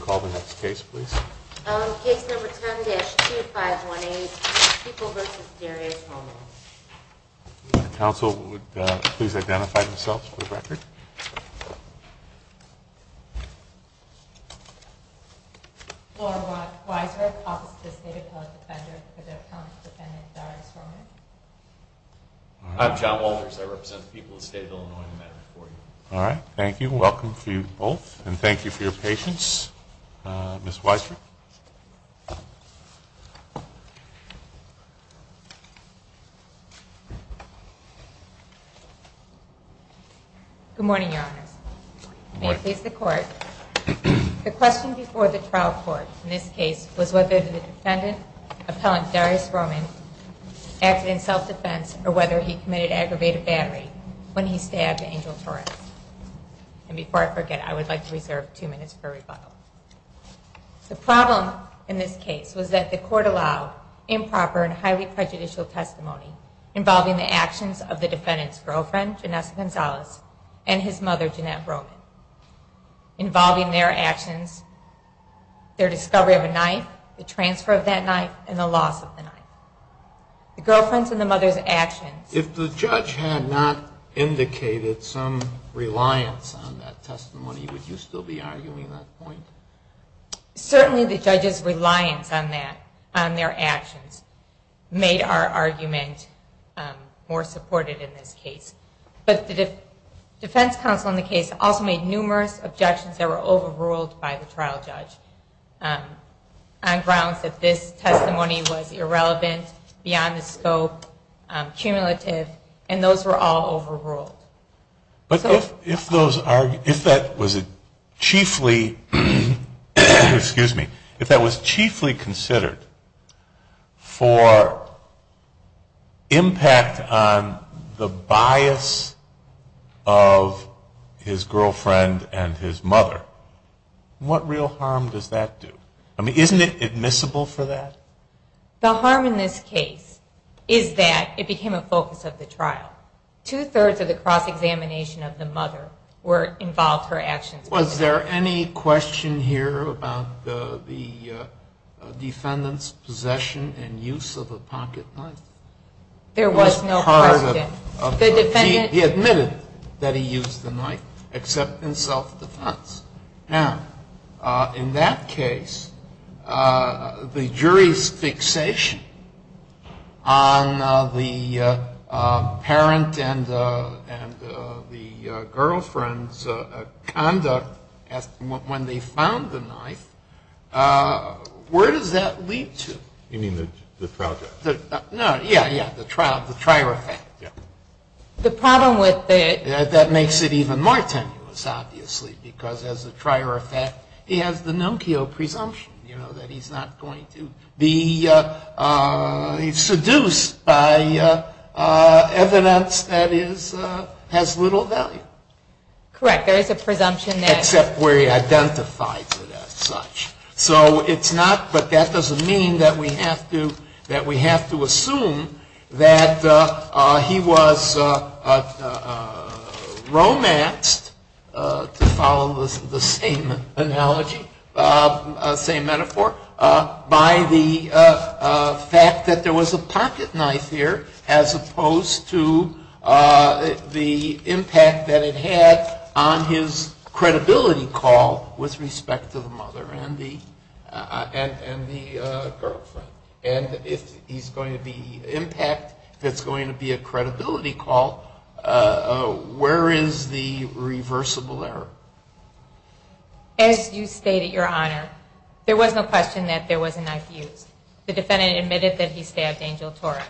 Call the next case please. Case number 10-2518, People v. Darius Roman. Counsel would please identify themselves for the record. Laura Weisberg, Office of the State Appellate Defender for the Appellant Defendant Darius Roman. I'm John Walters. I represent the people of the State of Illinois in the matter before you. All right. Thank you. Welcome to you both. And thank you for your patience. Ms. Weisberg. Good morning, Your Honors. May it please the Court. The question before the trial court in this case was whether the defendant, Appellant Darius Roman, acted in self-defense or whether he committed aggravated battery when he stabbed Angel Torres. And before I forget, I would like to reserve two minutes for rebuttal. The problem in this case was that the court allowed improper and highly prejudicial testimony involving the actions of the defendant's girlfriend, Janessa Gonzalez, and his mother, Jeanette Roman, involving their actions, their discovery of a knife, the transfer of that knife, and the loss of the knife. The girlfriend's and the mother's actions. If the judge had not indicated some reliance on that testimony, would you still be arguing that point? Certainly the judge's reliance on that, on their actions, made our argument more supported in this case. But the defense counsel in the case also made numerous objections that were overruled by the trial judge on grounds that this testimony was irrelevant, beyond the scope, cumulative, and those were all overruled. But if that was chiefly considered for impact on the bias of his girlfriend and his mother, what real harm does that do? I mean, isn't it admissible for that? The harm in this case is that it became a focus of the trial. Two-thirds of the cross-examination of the mother involved her actions. Was there any question here about the defendant's possession and use of a pocket knife? There was no question. He admitted that he used the knife, except in self-defense. Now, in that case, the jury's fixation on the parent and the girlfriend's conduct when they found the knife, where does that lead to? You mean the trial judge? No, yeah, yeah. The trial, the trier effect. Yeah. That's the problem with it. That makes it even more tenuous, obviously, because as a trier effect, he has the Nokia presumption, you know, that he's not going to be seduced by evidence that has little value. Correct. There is a presumption there. Except where he identifies it as such. So it's not, but that doesn't mean that we have to assume that he was romanced, to follow the same analogy, same metaphor, by the fact that there was a pocket knife here, as opposed to the impact that it had on his credibility call with respect to the mother and the girlfriend. And if he's going to be impact, if it's going to be a credibility call, where is the reversible error? As you stated, Your Honor, there was no question that there was a knife used. The defendant admitted that he stabbed Angel Torre,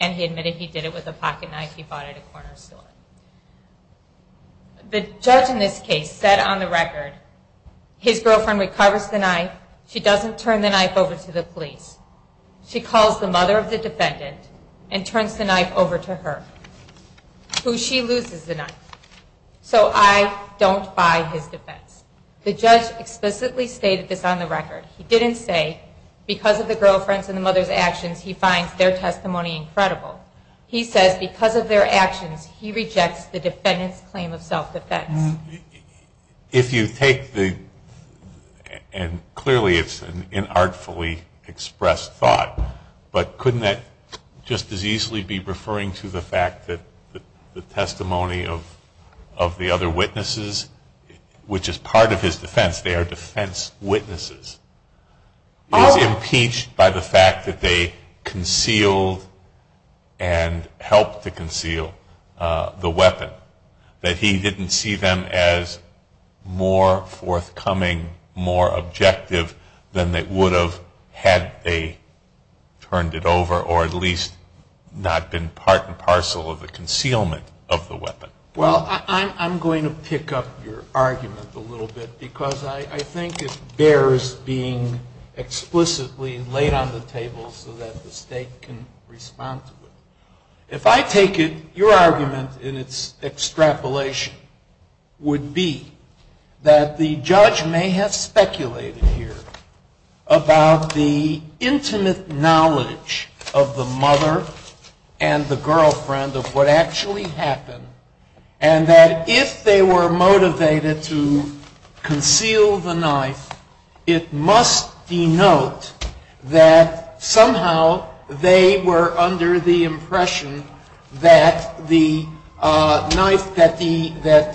and he admitted he did it with a pocket knife he bought at a corner store. The judge in this case said on the record, his girlfriend recovers the knife, she doesn't turn the knife over to the police. She calls the mother of the defendant and turns the knife over to her, who she loses the knife. So I don't buy his defense. The judge explicitly stated this on the record. He didn't say, because of the girlfriend's and the mother's actions, he finds their testimony incredible. He says, because of their actions, he rejects the defendant's claim of self-defense. If you take the, and clearly it's an inartfully expressed thought, but couldn't that just as easily be referring to the fact that the testimony of the other witnesses, which is part of his defense, they are defense witnesses, is impeached by the fact that they concealed and helped to conceal the weapon. That he didn't see them as more forthcoming, more objective than they would have had they turned it over, or at least not been part and parcel of the concealment of the weapon. Well, I'm going to pick up your argument a little bit, because I think it bears being explicitly laid on the table so that the State can respond to it. If I take it, your argument in its extrapolation would be that the judge may have speculated here about the intimate knowledge of the mother and the girlfriend of what actually happened, and that if they were motivated to conceal the knife, it must denote that somehow they were under the impression that the knife that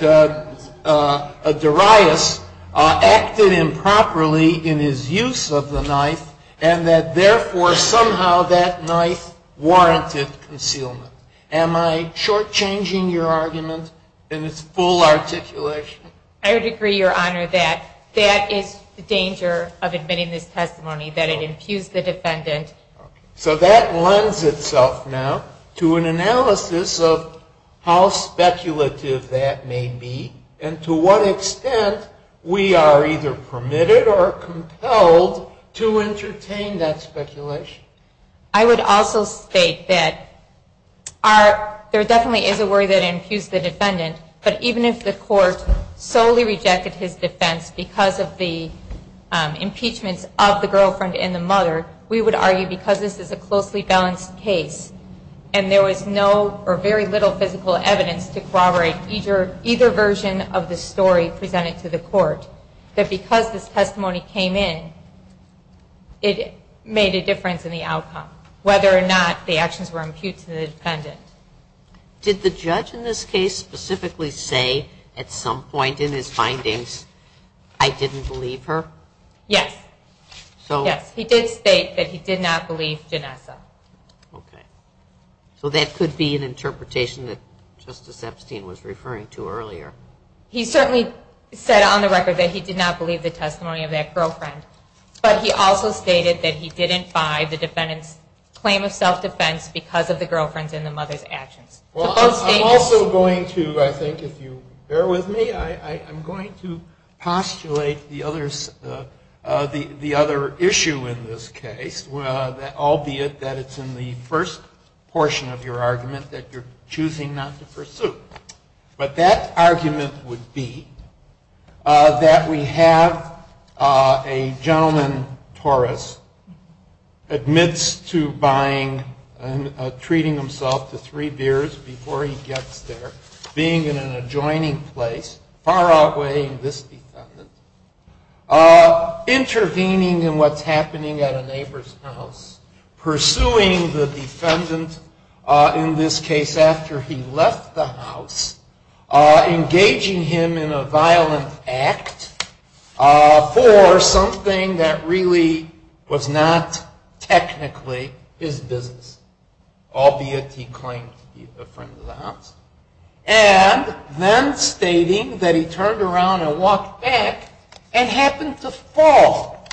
Darius acted improperly in his use of the knife, and that therefore somehow that knife warranted concealment. Am I shortchanging your argument in its full articulation? I would agree, Your Honor, that that is the danger of admitting this testimony, that it infused the defendant. Okay. So that lends itself now to an analysis of how speculative that may be, and to what extent we are either permitted or compelled to entertain that speculation. I would also state that there definitely is a worry that it infused the defendant, but even if the court solely rejected his defense because of the impeachments of the girlfriend and the mother, we would argue because this is a closely balanced case and there was no or very little physical evidence to corroborate either version of the story presented to the court, that because this testimony came in, it made a difference in the outcome, whether or not the actions were impute to the defendant. Did the judge in this case specifically say at some point in his findings, I didn't believe her? Yes. Yes, he did state that he did not believe Janessa. Okay. So that could be an interpretation that Justice Epstein was referring to earlier. He certainly said on the record that he did not believe the testimony of that girlfriend, but he also stated that he didn't buy the defendant's claim of self-defense because of the girlfriend's and the mother's actions. Well, I'm also going to, I think if you bear with me, I'm going to postulate the other issue in this case, albeit that it's in the first portion of your argument that you're choosing not to pursue. But that argument would be that we have a gentleman, Torres, admits to buying and treating himself to three beers before he gets there, being in an adjoining place, far outweighing this defendant, intervening in what's happening at a neighbor's house, pursuing the defendant in this case after he left the house, engaging him in a violent act for something that really was not technically his business, albeit he claimed to be a friend of the house, and then stating that he turned around and walked back and happened to fall,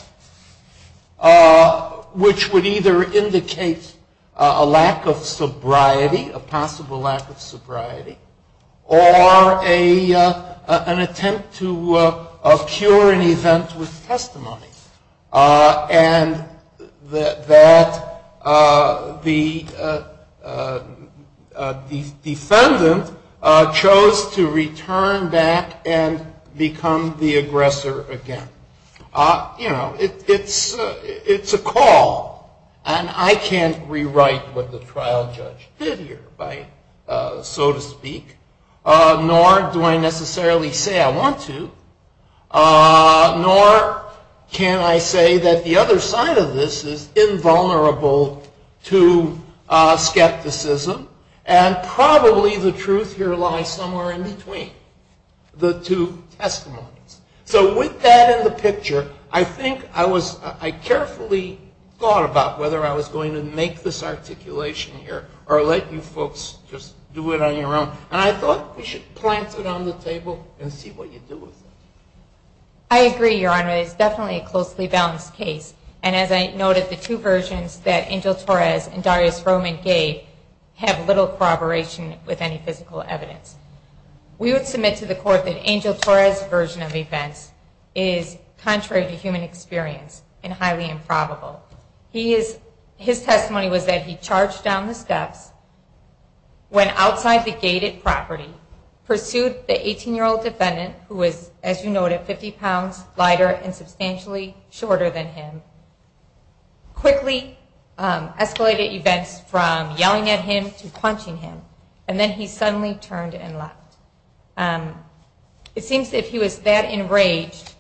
which would either indicate a lack of sobriety, a possible lack of sobriety, or an attempt to cure an event with testimony, and that the defendant chose to return back and become the aggressor again. You know, it's a call, and I can't rewrite what the trial judge did here, so to speak, nor do I necessarily say I want to, nor can I say that the other side of this is invulnerable to skepticism, and probably the truth here lies somewhere in between the two testimonies. So with that in the picture, I think I carefully thought about whether I was going to make this articulation here or let you folks just do it on your own, and I thought we should plant it on the table and see what you do with it. I agree, Your Honor. It's definitely a closely balanced case, and as I noted, the two versions that Angel Torres and Darius Roman gave have little corroboration with any physical evidence. We would submit to the court that Angel Torres' version of events is contrary to human experience and highly improbable. His testimony was that he charged down the steps, went outside the gate at property, pursued the 18-year-old defendant who was, as you noted, 50 pounds lighter and substantially shorter than him, quickly escalated events from yelling at him to punching him, and then he suddenly turned and left. It seems that if he was that enraged,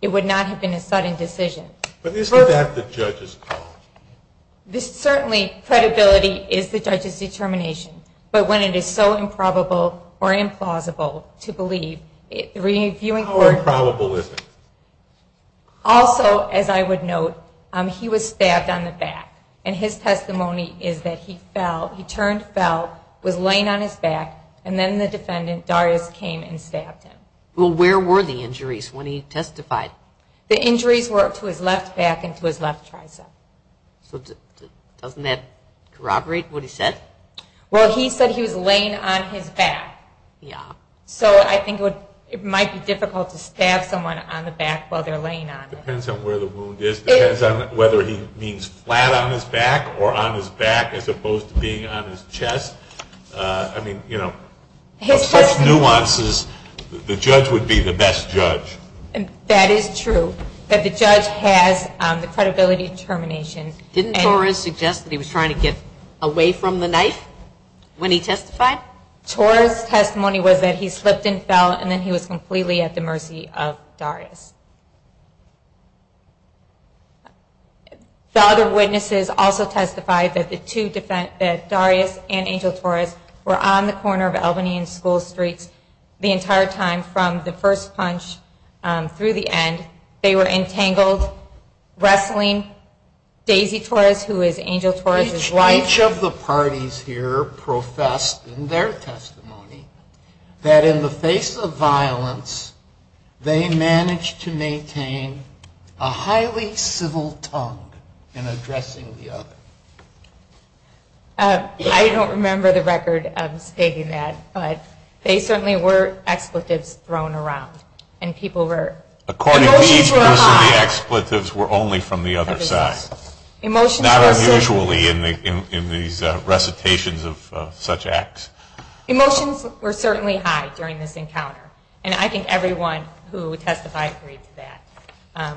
it would not have been a sudden decision. But isn't that the judge's call? Certainly, credibility is the judge's determination, but when it is so improbable or implausible to believe, the reviewing court... How improbable is it? Also, as I would note, he was stabbed on the back, and his testimony is that he fell. He turned, fell, was laying on his back, and then the defendant, Darius, came and stabbed him. Well, where were the injuries when he testified? The injuries were to his left back and to his left tricep. So doesn't that corroborate what he said? Well, he said he was laying on his back. Yeah. So I think it might be difficult to stab someone on the back while they're laying on it. It depends on where the wound is. It depends on whether he means flat on his back or on his back as opposed to being on his chest. I mean, you know, of such nuances, the judge would be the best judge. That is true that the judge has the credibility determination. Didn't Torres suggest that he was trying to get away from the knife when he testified? Torres' testimony was that he slipped and fell, and then he was completely at the mercy of Darius. The other witnesses also testified that Darius and Angel Torres were on the corner of Albany and School Streets the entire time from the first punch through the end. They were entangled wrestling Daisy Torres, who is Angel Torres' wife. Each of the parties here professed in their testimony that in the face of violence, they managed to maintain a highly civil tongue in addressing the other. I don't remember the record stating that, but they certainly were expletives thrown around. According to each person, the expletives were only from the other side, not unusually in these recitations of such acts. Emotions were certainly high during this encounter, and I think everyone who testified agreed to that,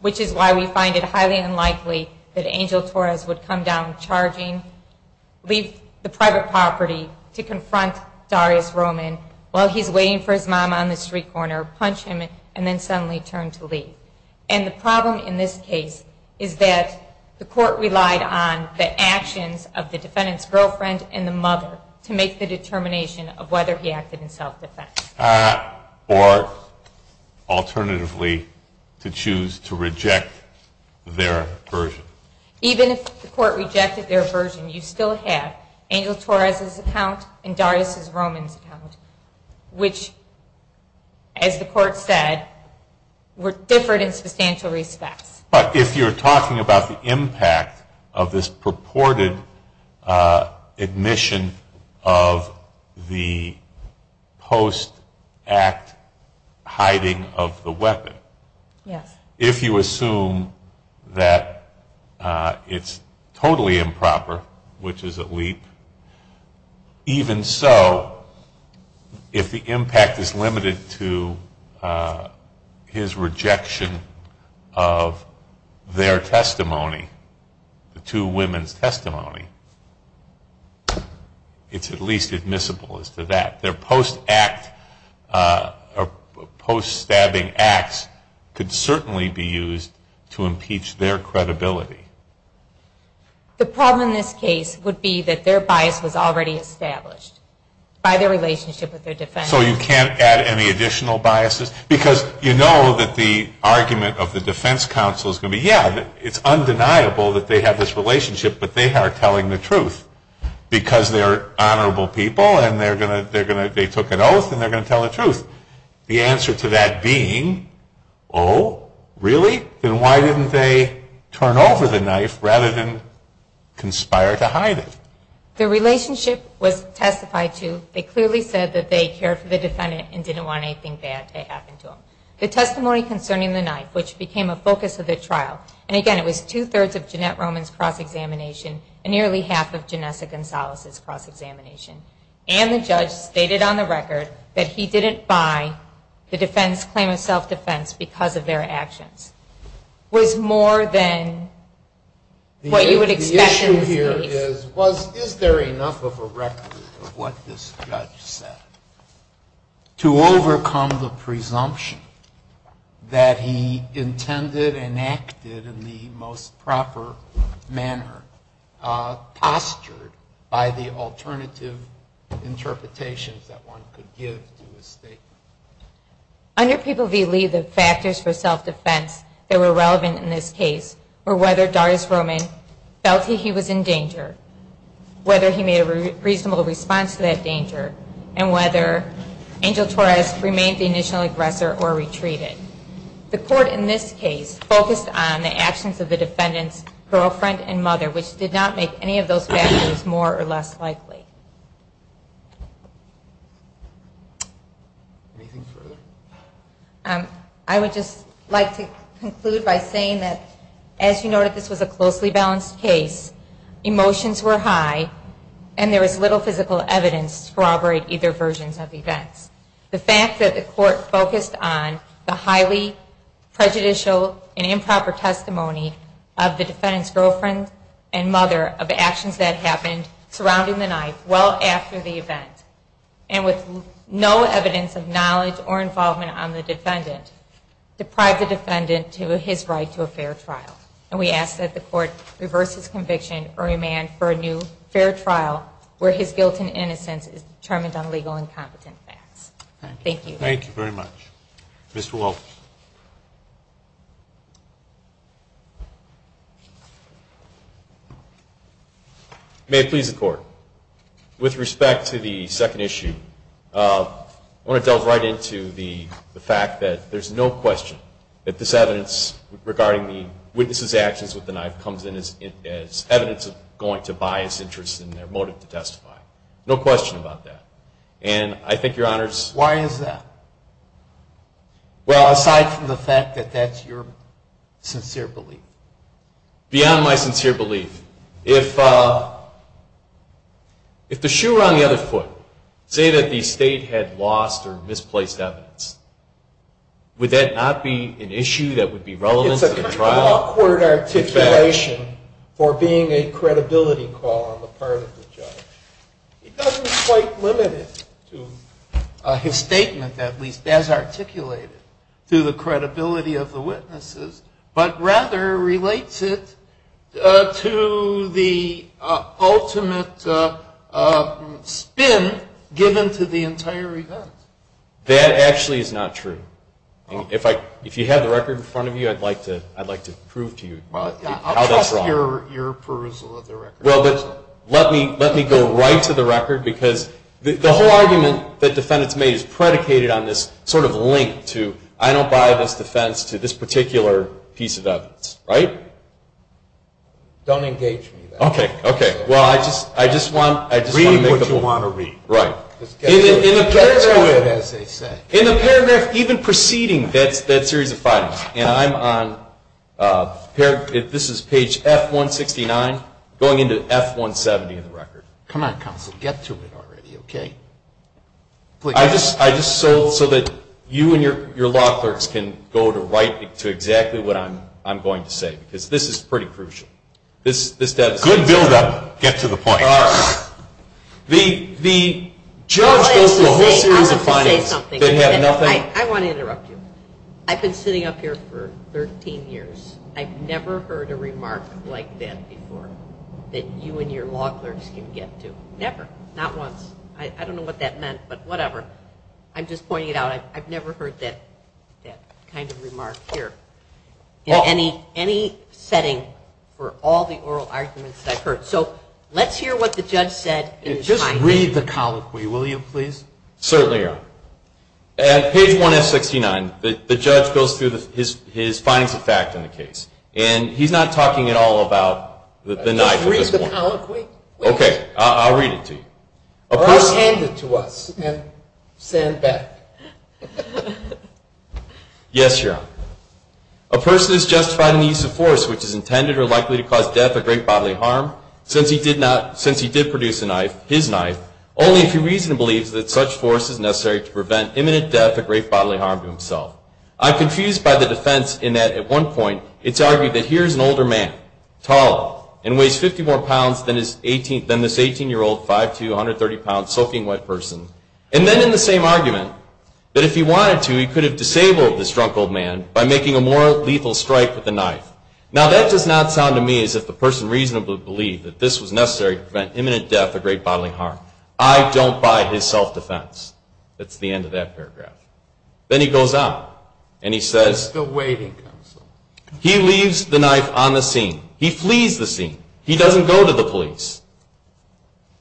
which is why we find it highly unlikely that Angel Torres would come down charging, leave the private property to confront Darius Roman while he's waiting for his mom on the street corner, punch him, and then suddenly turn to leave. And the problem in this case is that the court relied on the actions of the defendant's girlfriend and the mother to make the determination of whether he acted in self-defense. Or, alternatively, to choose to reject their version. Even if the court rejected their version, you still have Angel Torres' account and Darius Roman's account, which, as the court said, were different in substantial respects. But if you're talking about the impact of this purported admission of the post-act hiding of the weapon, if you assume that it's totally improper, which is a leap, even so, if the impact is limited to his rejection of their testimony, the two women's testimony, it's at least admissible as to that. Their post-act or post-stabbing acts could certainly be used to impeach their credibility. The problem in this case would be that their bias was already established by their relationship with their defense counsel. So you can't add any additional biases? Because you know that the argument of the defense counsel is going to be, yeah, it's undeniable that they have this relationship, but they are telling the truth because they're honorable people The answer to that being, oh, really? Then why didn't they turn over the knife rather than conspire to hide it? The relationship was testified to. They clearly said that they cared for the defendant and didn't want anything bad to happen to him. The testimony concerning the knife, which became a focus of the trial, and again, it was two-thirds of Jeanette Roman's cross-examination and nearly half of Janessa Gonzalez's cross-examination, and the judge stated on the record that he didn't buy the defense claim of self-defense because of their actions, was more than what you would expect in this case. The issue here is, is there enough of a record of what this judge said to overcome the presumption that he intended and acted in the most proper manner, postured by the alternative interpretations that one could give to his statement? Under People v. Lee, the factors for self-defense that were relevant in this case were whether Darius Roman felt he was in danger, and whether Angel Torres remained the initial aggressor or retreated. The court in this case focused on the actions of the defendant's girlfriend and mother, which did not make any of those factors more or less likely. Anything further? I would just like to conclude by saying that, as you noted, this was a closely balanced case. Emotions were high, and there was little physical evidence to corroborate either versions of events. The fact that the court focused on the highly prejudicial and improper testimony of the defendant's girlfriend and mother, of actions that happened surrounding the night, well after the event, and with no evidence of knowledge or involvement on the defendant, deprived the defendant of his right to a fair trial. And we ask that the court reverse his conviction or demand for a new fair trial where his guilt and innocence is determined on legal and competent facts. Thank you. Thank you very much. Mr. Welch? May it please the Court, with respect to the second issue, I want to delve right into the fact that there's no question that this evidence regarding the witness's actions with the knife comes in as evidence of going to bias interests and their motive to testify. No question about that. And I think Your Honors... Why is that? Well, aside from the fact that that's your sincere belief. Beyond my sincere belief, if the shoe were on the other foot, say that the State had lost or misplaced evidence, would that not be an issue that would be relevant to the trial? It's a kind of awkward articulation for being a credibility call on the part of the judge. It doesn't quite limit it to his statement, at least, as articulated through the credibility of the witnesses, but rather relates it to the ultimate spin given to the entire event. That actually is not true. If you have the record in front of you, I'd like to prove to you how that's wrong. I'll trust your appraisal of the record. Well, let me go right to the record, because the whole argument that defendants made is predicated on this sort of link to, I don't buy this defense to this particular piece of evidence, right? Don't engage me there. Okay, okay. Well, I just want to make a point. Read what you want to read. Right. Get to it, as they say. In the paragraph even preceding that series of findings, and this is page F-169 going into F-170 in the record. Come on, counsel, get to it already, okay? I just sold it so that you and your law clerks can go to exactly what I'm going to say, because this is pretty crucial. Good buildup. Get to the point. The judge goes through a whole series of findings. I want to interrupt you. I've been sitting up here for 13 years. I've never heard a remark like that before that you and your law clerks can get to. Never. Not once. I don't know what that meant, but whatever. I'm just pointing it out. I've never heard that kind of remark here in any setting for all the oral arguments that I've heard. So let's hear what the judge said. Just read the colloquy, will you, please? Certainly, Your Honor. At page 1-F69, the judge goes through his findings of fact in the case, and he's not talking at all about the knife at this point. Just read the colloquy. Okay. I'll read it to you. Or hand it to us and send back. Yes, Your Honor. A person is justified in the use of force which is intended or likely to cause death or great bodily harm since he did produce a knife, his knife, only if he reasonably believes that such force is necessary to prevent imminent death or great bodily harm to himself. I'm confused by the defense in that at one point it's argued that here's an older man, taller, and weighs 50 more pounds than this 18-year-old 5'2", 130-pound, soaking wet person. And then in the same argument, that if he wanted to, he could have disabled this drunk old man by making a more lethal strike with the knife. Now, that does not sound to me as if the person reasonably believed that this was necessary to prevent imminent death or great bodily harm. I don't buy his self-defense. That's the end of that paragraph. Then he goes on and he says he leaves the knife on the scene. He flees the scene. He doesn't go to the police.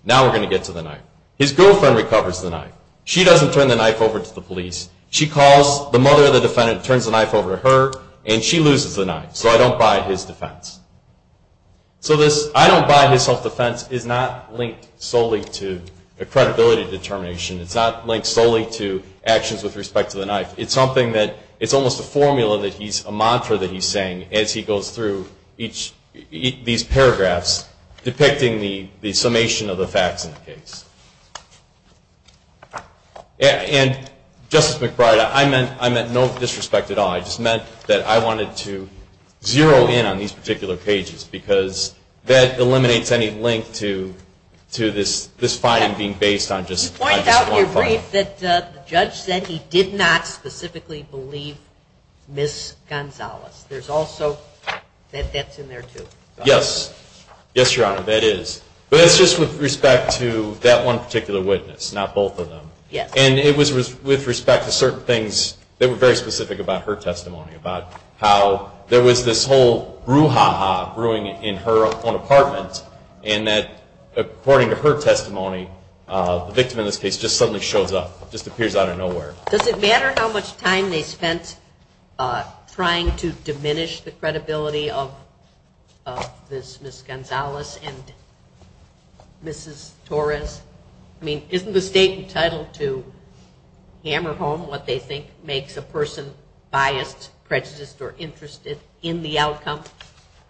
Now we're going to get to the knife. His girlfriend recovers the knife. She doesn't turn the knife over to the police. She calls the mother of the defendant, turns the knife over to her, and she loses the knife. So I don't buy his defense. So this I don't buy his self-defense is not linked solely to a credibility determination. It's not linked solely to actions with respect to the knife. It's something that it's almost a formula, a mantra that he's saying as he goes through these paragraphs depicting the summation of the facts in the case. And, Justice McBride, I meant no disrespect at all. I just meant that I wanted to zero in on these particular pages because that eliminates any link to this finding being based on just one point. You point out in your brief that the judge said he did not specifically believe Ms. Gonzalez. There's also that that's in there, too. Yes. Yes, Your Honor, that is. But it's just with respect to that one particular witness, not both of them. Yes. And it was with respect to certain things that were very specific about her testimony, about how there was this whole brouhaha brewing in her own apartment and that, according to her testimony, the victim in this case just suddenly shows up, just appears out of nowhere. Does it matter how much time they spent trying to diminish the credibility of this Ms. Gonzalez and Mrs. Torres? I mean, isn't the State entitled to hammer home what they think makes a person biased, prejudiced, or interested in the outcome?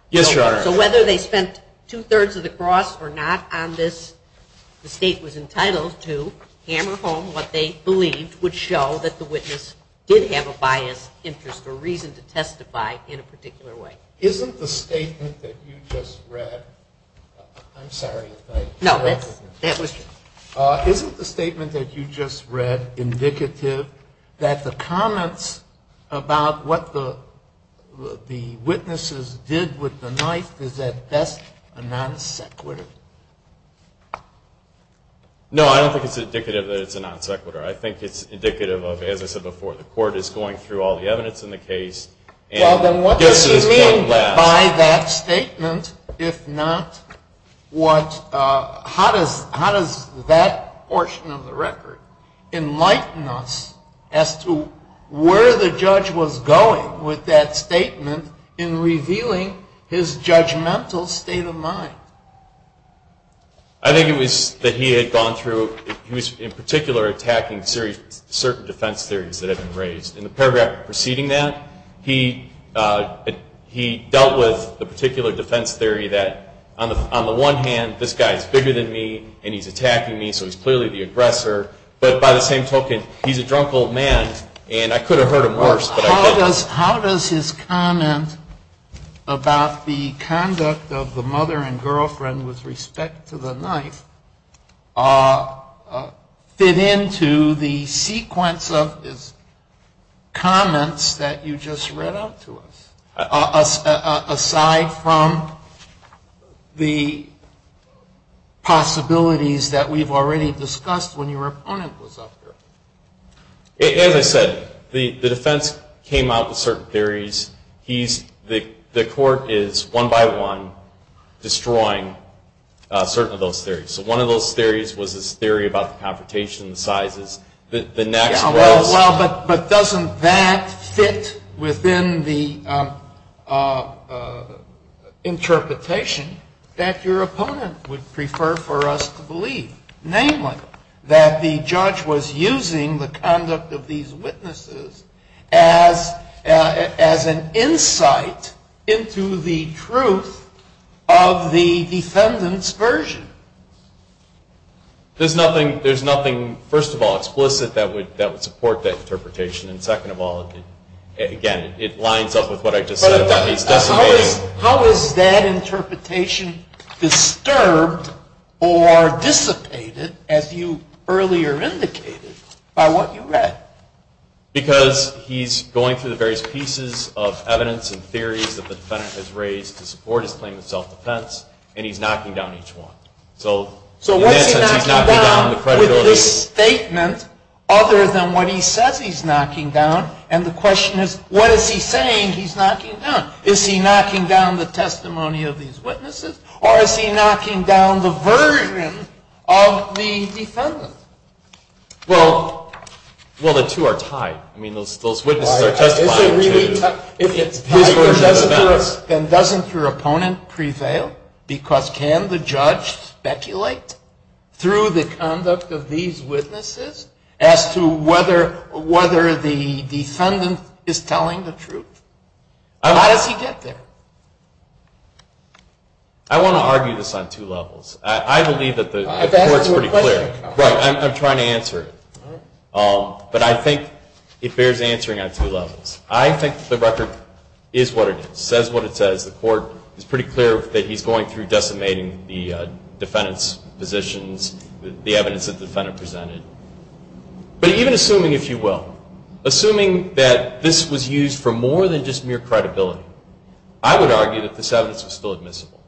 Yes, Your Honor. So whether they spent two-thirds of the cross or not on this, the State was entitled to hammer home what they believed would show that the witness did have a biased interest or reason to testify in a particular way. Isn't the statement that you just read indicative that the comments about what the witnesses did with the knife is at best a non-sequitur? No, I don't think it's indicative that it's a non-sequitur. I think it's indicative of, as I said before, the Court is going through all the evidence in the case. Well, then what does he mean by that statement, if not what? How does that portion of the record enlighten us as to where the judge was going with that statement in revealing his judgmental state of mind? I think it was that he had gone through, in particular, attacking certain defense theories that had been raised. In the paragraph preceding that, he dealt with the particular defense theory that, on the one hand, this guy is bigger than me and he's attacking me, so he's clearly the aggressor. But by the same token, he's a drunk old man, and I could have heard him worse. How does his comment about the conduct of the mother and girlfriend with respect to the knife fit into the sequence of his comments that you just read out to us, aside from the possibilities that we've already discussed when your opponent was up there? As I said, the defense came out with certain theories. The Court is, one by one, destroying certain of those theories. So one of those theories was this theory about the confrontation and the sizes. Well, but doesn't that fit within the interpretation that your opponent would prefer for us to believe, namely, that the judge was using the conduct of these witnesses as an insight into the truth of the defendant's version? There's nothing, first of all, explicit that would support that interpretation, and second of all, again, it lines up with what I just said. How is that interpretation disturbed or dissipated, as you earlier indicated, by what you read? Because he's going through the various pieces of evidence and theories that the defendant has raised to support his claim of self-defense, and he's knocking down each one. So what's he knocking down with this statement other than what he says he's knocking down? And the question is, what is he saying he's knocking down? Is he knocking down the testimony of these witnesses, or is he knocking down the version of the defendant? Well, the two are tied. I mean, those witnesses are testifying to his version of the defense. Then doesn't your opponent prevail? Because can the judge speculate through the conduct of these witnesses as to whether the defendant is telling the truth? How does he get there? I want to argue this on two levels. I believe that the court is pretty clear. I'm trying to answer it. But I think it bears answering on two levels. I think the record is what it is. It says what it says. The court is pretty clear that he's going through decimating the defendant's positions, the evidence that the defendant presented. But even assuming, if you will, assuming that this was used for more than just mere credibility, I would argue that this evidence was still admissible.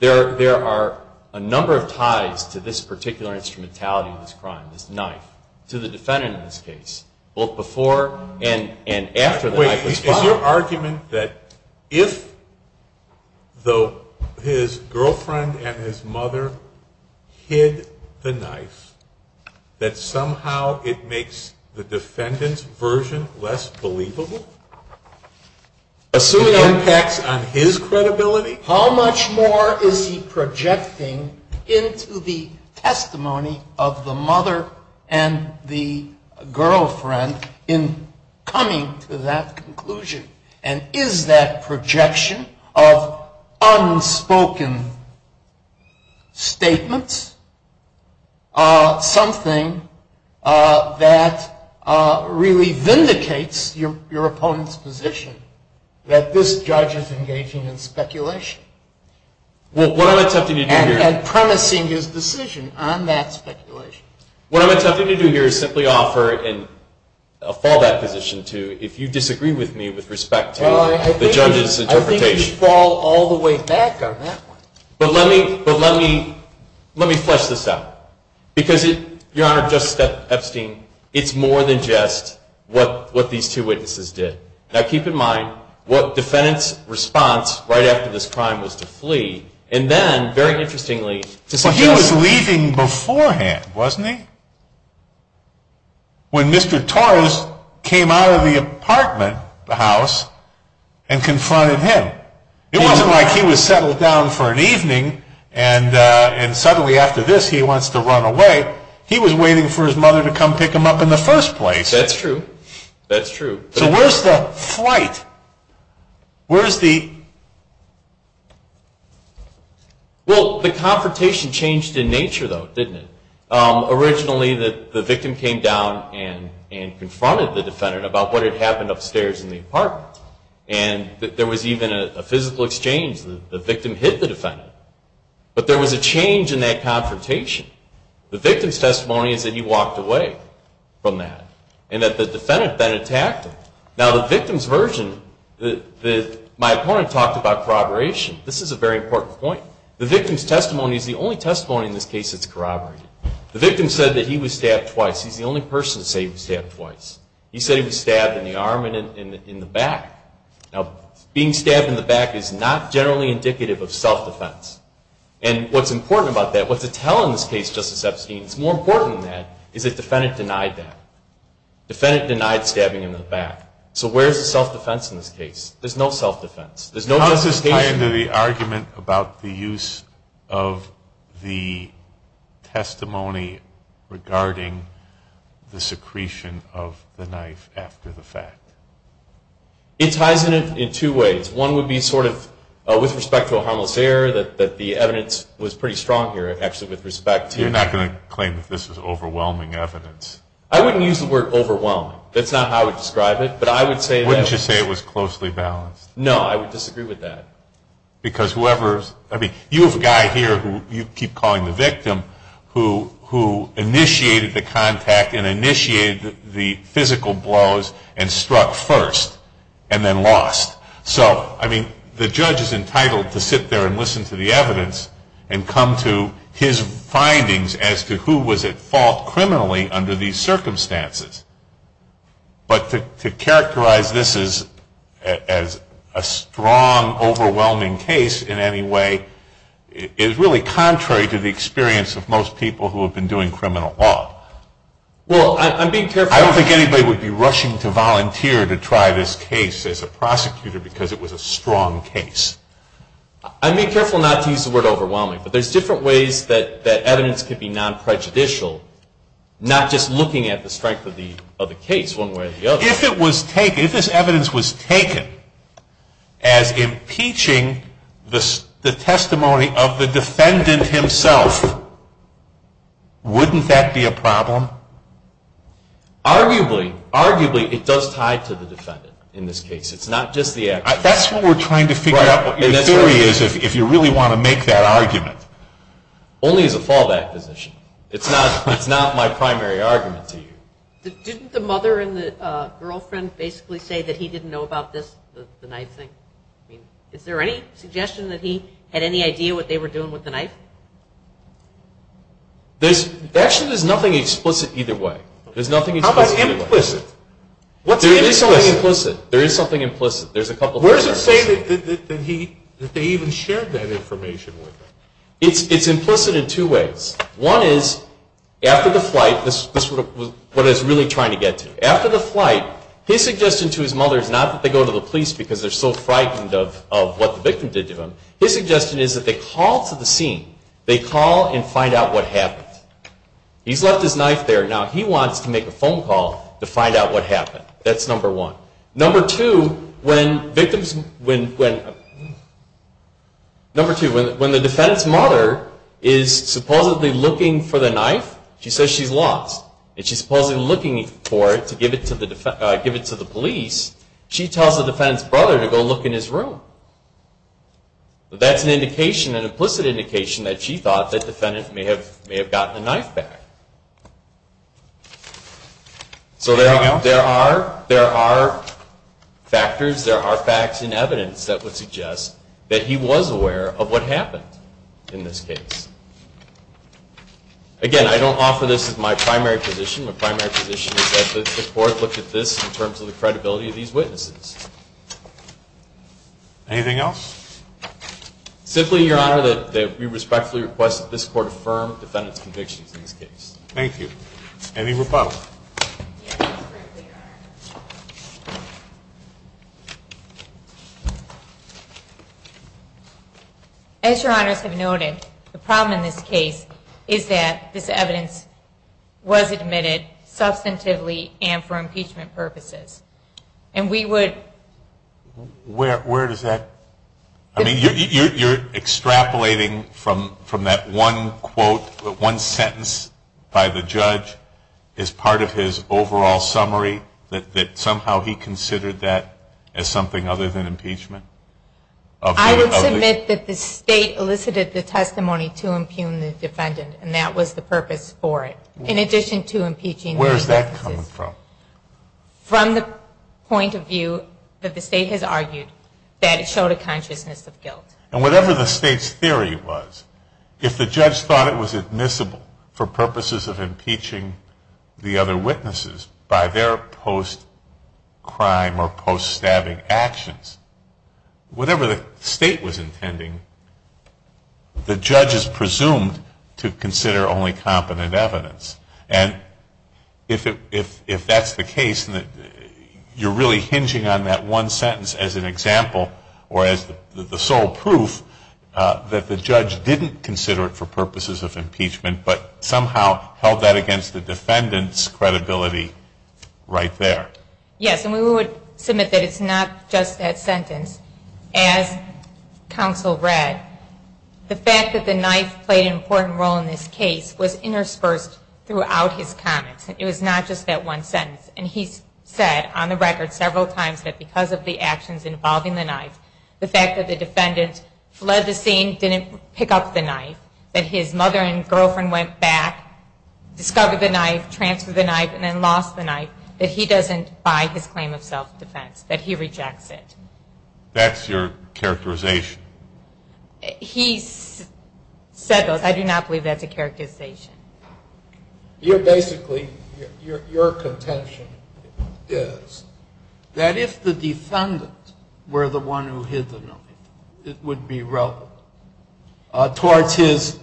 There are a number of ties to this particular instrumentality of this crime, this knife, to the defendant in this case, both before and after the knife was fired. So is your argument that if, though his girlfriend and his mother hid the knife, that somehow it makes the defendant's version less believable? Assuming it impacts on his credibility? How much more is he projecting into the testimony of the mother and the girlfriend in coming to that conclusion? And is that projection of unspoken statements something that really vindicates your opponent's position, that this judge is engaging in speculation and promising his decision on that speculation? What I'm attempting to do here is simply offer and fall that position to, if you disagree with me with respect to the judge's interpretation. Well, I think you should fall all the way back on that one. But let me flesh this out. Because, Your Honor, just Epstein, it's more than just what these two witnesses did. Now, keep in mind what defendant's response right after this crime was to flee. And then, very interestingly, to suggest- But he was leaving beforehand, wasn't he? When Mr. Torres came out of the apartment, the house, and confronted him. It wasn't like he was settled down for an evening and suddenly after this he wants to run away. He was waiting for his mother to come pick him up in the first place. That's true. That's true. So where's the flight? Where's the- Well, the confrontation changed in nature, though, didn't it? Originally, the victim came down and confronted the defendant about what had happened upstairs in the apartment. And there was even a physical exchange. The victim hit the defendant. But there was a change in that confrontation. The victim's testimony is that he walked away from that. And that the defendant then attacked him. Now, the victim's version, my opponent talked about corroboration. This is a very important point. The victim's testimony is the only testimony in this case that's corroborated. The victim said that he was stabbed twice. He's the only person to say he was stabbed twice. He said he was stabbed in the arm and in the back. Now, being stabbed in the back is not generally indicative of self-defense. And what's important about that, what's a tell in this case, Justice Epstein, it's more important than that is that the defendant denied that. The defendant denied stabbing him in the back. So where's the self-defense in this case? There's no self-defense. There's no justification. How does this tie into the argument about the use of the testimony regarding the secretion of the knife after the fact? It ties in it in two ways. One would be sort of with respect to a harmless error, that the evidence was pretty strong here actually with respect to- You're not going to claim that this is overwhelming evidence. I wouldn't use the word overwhelming. That's not how I would describe it, but I would say that- Wouldn't you say it was closely balanced? No, I would disagree with that. Because whoever's-I mean, you have a guy here who you keep calling the victim who initiated the contact and initiated the physical blows and struck first and then lost. and come to his findings as to who was at fault criminally under these circumstances. But to characterize this as a strong, overwhelming case in any way is really contrary to the experience of most people who have been doing criminal law. Well, I'm being careful- I don't think anybody would be rushing to volunteer to try this case as a prosecutor because it was a strong case. I'm being careful not to use the word overwhelming, but there's different ways that evidence could be non-prejudicial, not just looking at the strength of the case one way or the other. If this evidence was taken as impeaching the testimony of the defendant himself, wouldn't that be a problem? Arguably. Arguably, it does tie to the defendant in this case. It's not just the- That's what we're trying to figure out, what your theory is, if you really want to make that argument. Only as a fallback position. It's not my primary argument to you. Didn't the mother and the girlfriend basically say that he didn't know about this, the knife thing? Is there any suggestion that he had any idea what they were doing with the knife? Actually, there's nothing explicit either way. How about implicit? There is something implicit. Where does it say that they even shared that information with him? It's implicit in two ways. One is, after the flight, this is what I was really trying to get to. After the flight, his suggestion to his mother is not that they go to the police because they're so frightened of what the victim did to him. His suggestion is that they call to the scene. They call and find out what happened. He's left his knife there. Now he wants to make a phone call to find out what happened. That's number one. Number two, when the defendant's mother is supposedly looking for the knife, she says she's lost. And she's supposedly looking for it to give it to the police. She tells the defendant's brother to go look in his room. That's an indication, an implicit indication, that she thought the defendant may have gotten the knife back. So there are factors, there are facts and evidence that would suggest that he was aware of what happened in this case. Again, I don't offer this as my primary position. My primary position is that the court looked at this in terms of the credibility of these witnesses. Anything else? Simply, Your Honor, that we respectfully request that this court affirm the defendant's convictions in this case. Thank you. Any rebuttals? As Your Honors have noted, the problem in this case is that this evidence was admitted substantively and for impeachment purposes. And we would... Where does that... I mean, you're extrapolating from that one quote, one sentence by the judge as part of his overall summary, that somehow he considered that as something other than impeachment? I would submit that the State elicited the testimony to impugn the defendant and that was the purpose for it. In addition to impeaching... Where is that coming from? From the point of view that the State has argued that it showed a consciousness of guilt. And whatever the State's theory was, if the judge thought it was admissible for purposes of impeaching the other witnesses by their post-crime or post-stabbing actions, whatever the State was intending, the judge is presumed to consider only competent evidence. And if that's the case, you're really hinging on that one sentence as an example or as the sole proof that the judge didn't consider it for purposes of impeachment but somehow held that against the defendant's credibility right there. Yes. And we would submit that it's not just that sentence. As counsel read, the fact that the knife played an important role in this case was interspersed throughout his comments. It was not just that one sentence. And he said on the record several times that because of the actions involving the knife, the fact that the defendant fled the scene, didn't pick up the knife, that his mother and girlfriend went back, discovered the knife, transferred the knife, and then lost the knife, that he doesn't buy his claim of self-defense, that he rejects it. That's your characterization? He said those. I do not believe that's a characterization. Basically, your contention is that if the defendant were the one who hid the knife, it would be relevant towards his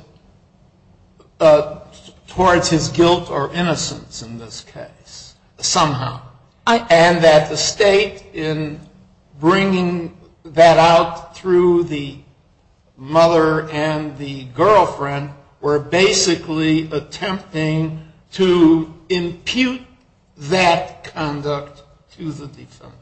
guilt or innocence in this case somehow. And that the state, in bringing that out through the mother and the girlfriend, were basically attempting to impute that conduct to the defendant.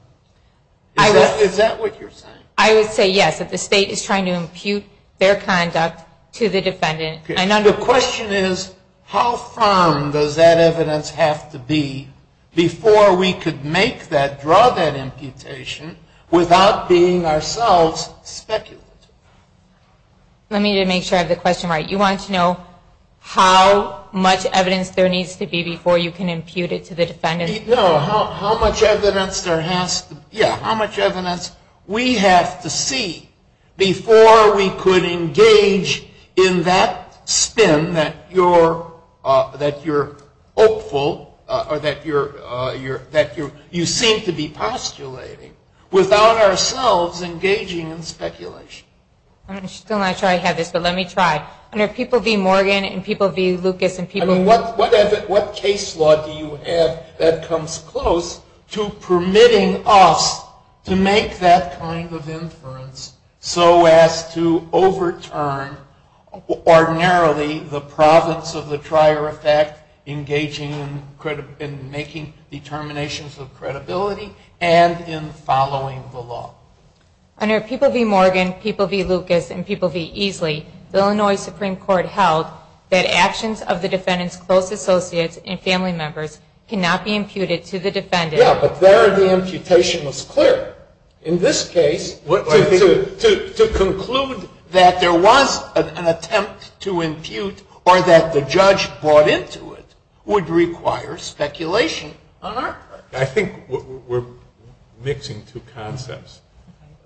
Is that what you're saying? I would say yes, that the state is trying to impute their conduct to the defendant. And the question is, how firm does that evidence have to be before we could make that, draw that imputation without being ourselves speculative? Let me make sure I have the question right. You want to know how much evidence there needs to be before you can impute it to the defendant? No, how much evidence there has to be, how much evidence we have to see before we could engage in that spin that you're hopeful, or that you seem to be postulating, without ourselves engaging in speculation? I'm still not sure I have this, but let me try. Are there people v. Morgan and people v. Lucas? What case law do you have that comes close to permitting us to make that kind of inference so as to overturn ordinarily the province of the trier effect engaging in making determinations of credibility and in following the law? Under people v. Morgan, people v. Lucas, and people v. Easley, the Illinois Supreme Court held that actions of the defendant's close associates and family members cannot be imputed to the defendant. Yeah, but there the imputation was clear. In this case, to conclude that there was an attempt to impute, or that the judge bought into it, would require speculation on our part. I think we're mixing two concepts.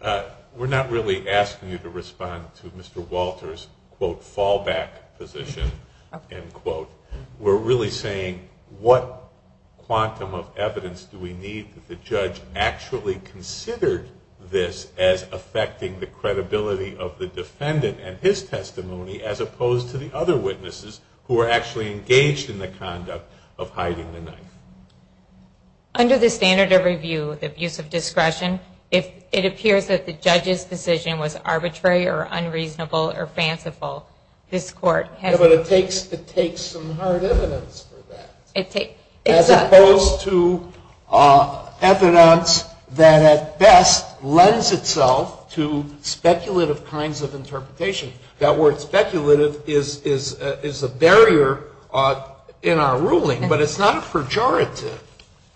We're not really asking you to respond to Mr. Walter's, quote, fallback position, end quote. We're really saying what quantum of evidence do we need that the judge actually considered this as affecting the credibility of the defendant and his testimony as opposed to the other witnesses who were actually engaged in the conduct of hiding the knife? Under the standard of review, the abuse of discretion, if it appears that the judge's decision was arbitrary or unreasonable or fanciful, this Court has to respond. Yeah, but it takes some hard evidence for that. As opposed to evidence that at best lends itself to speculative kinds of interpretation. That word speculative is a barrier in our ruling, but it's not a pejorative.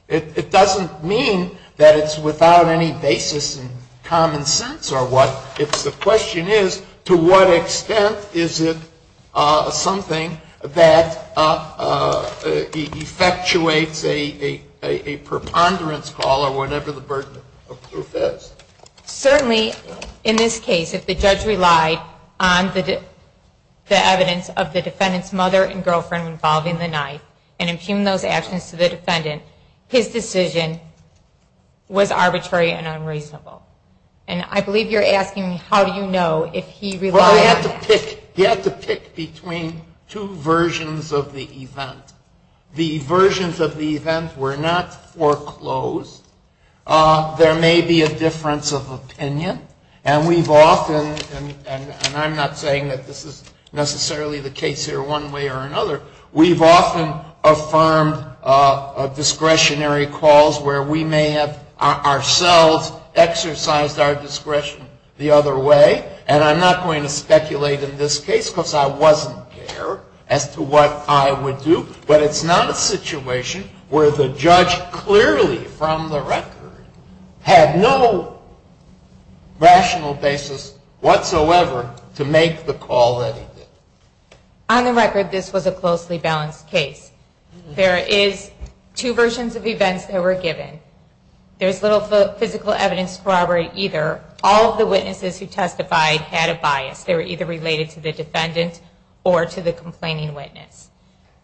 It doesn't mean that it's without any basis in common sense or what. If the question is, to what extent is it something that effectuates a preponderance call or whatever the burden of proof is. Certainly, in this case, if the judge relied on the evidence of the defendant's mother and girlfriend involving the knife and impugned those actions to the defendant, his decision was arbitrary and unreasonable. And I believe you're asking me, how do you know if he relied on that? Well, you have to pick between two versions of the event. The versions of the event were not foreclosed. There may be a difference of opinion, and we've often, and I'm not saying that this is necessarily the case here one way or another, we've often affirmed discretionary calls where we may have ourselves exercised our discretion the other way. And I'm not going to speculate in this case because I wasn't there as to what I would do. But it's not a situation where the judge clearly from the record had no rational basis whatsoever to make the call that he did. On the record, this was a closely balanced case. There is two versions of events that were given. There's little physical evidence corroborated either. All of the witnesses who testified had a bias. They were either related to the defendant or to the complaining witness.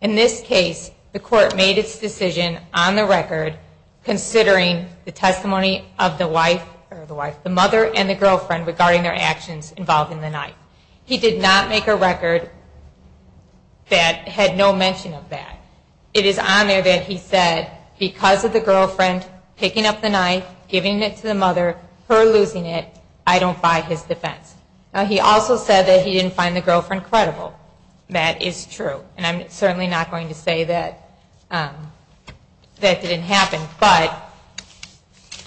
In this case, the court made its decision on the record considering the testimony of the mother and the girlfriend regarding their actions involving the knife. He did not make a record that had no mention of that. It is on there that he said because of the girlfriend picking up the knife, giving it to the mother, her losing it, I don't buy his defense. He also said that he didn't find the girlfriend credible. That is true, and I'm certainly not going to say that that didn't happen. But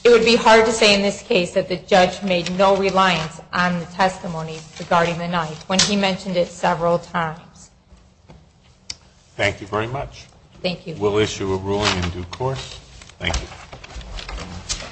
it would be hard to say in this case that the judge made no reliance on the testimony regarding the knife when he mentioned it several times. Thank you very much. Thank you. We'll issue a ruling in due course. Thank you.